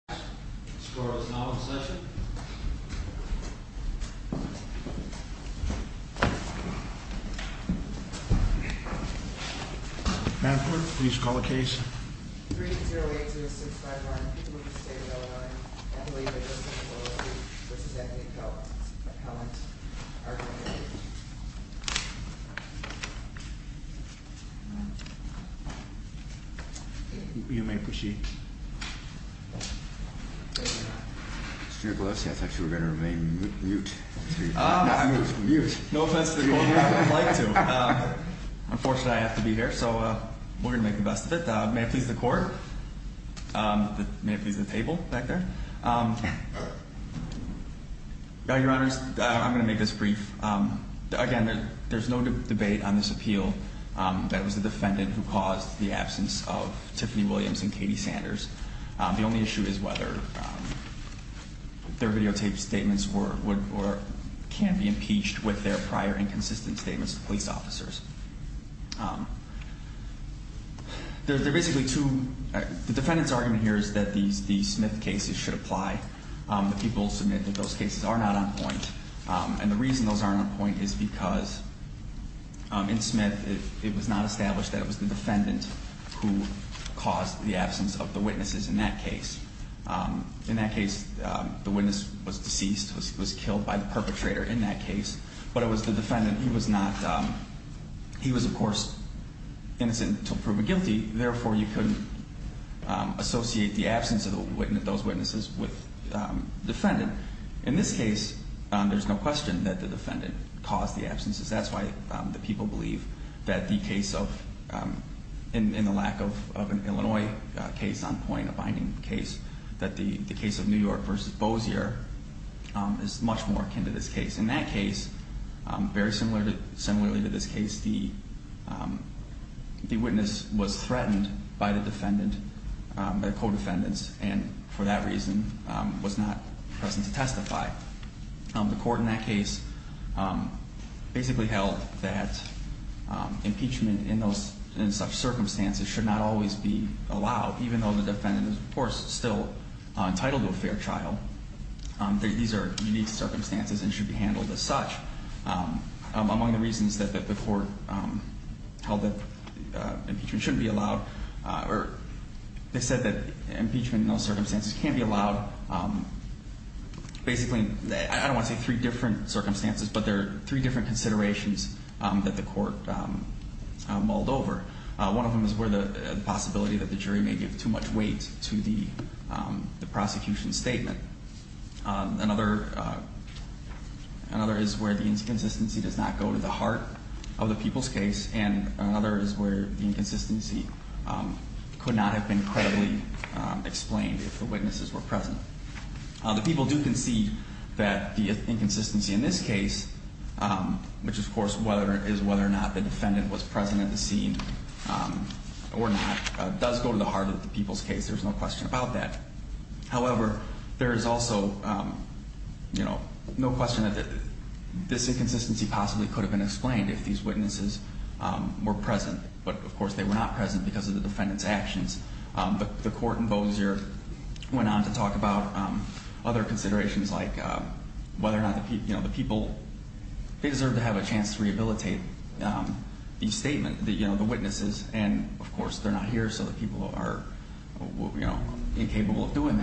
McCracken and successor and please call the case. 308259. You may proceed. I thought you were going to remain mute. No offense to the court, but I'd like to. Unfortunately, I have to be here, so we're going to make the best of it. May it please the court, may it please the table back there. Your Honors, I'm going to make this brief. Again, there's no debate on this appeal. That was the defendant who caused the absence of Tiffany Williams and Katie Sanders. The only issue is whether their videotaped statements can be impeached with their prior inconsistent statements to police officers. The defendant's argument here is that the Smith cases should apply. People submit that those cases are not on point, and the reason those aren't on point is because in Smith, it was not established that it was the defendant who caused the absence of the witnesses in that case. In that case, the witness was deceased, was killed by the perpetrator in that case, but it was the defendant. He was, of course, innocent until proven guilty, therefore, you couldn't associate the absence of those witnesses with the defendant. In this case, there's no question that the defendant caused the absences. That's why the people believe that the case of, in the lack of an Illinois case on point, a binding case, that the case of New York v. Bozier is much more akin to this case. In that case, very similarly to this case, the witness was threatened by the defendant, by the co-defendants, and for that reason was not present to testify. The court in that case basically held that impeachment in such circumstances should not always be allowed, even though the defendant is, of course, still entitled to a fair trial. These are unique circumstances and should be handled as such. Among the reasons that the court held that impeachment shouldn't be allowed, or they I don't want to say three different circumstances, but there are three different considerations that the court mulled over. One of them is where the possibility that the jury may give too much weight to the prosecution statement. Another is where the inconsistency does not go to the heart of the people's case, and another is where the inconsistency could not have been credibly explained if the witnesses were present. The people do concede that the inconsistency in this case, which of course is whether or not the defendant was present at the scene or not, does go to the heart of the people's case. There's no question about that. However, there is also no question that this inconsistency possibly could have been explained if these witnesses were present, but of course they were not present because of the defendant's actions. The court in Bossier went on to talk about other considerations like whether or not the people, they deserve to have a chance to rehabilitate each statement, the witnesses, and of course they're not here so the people are incapable of doing that.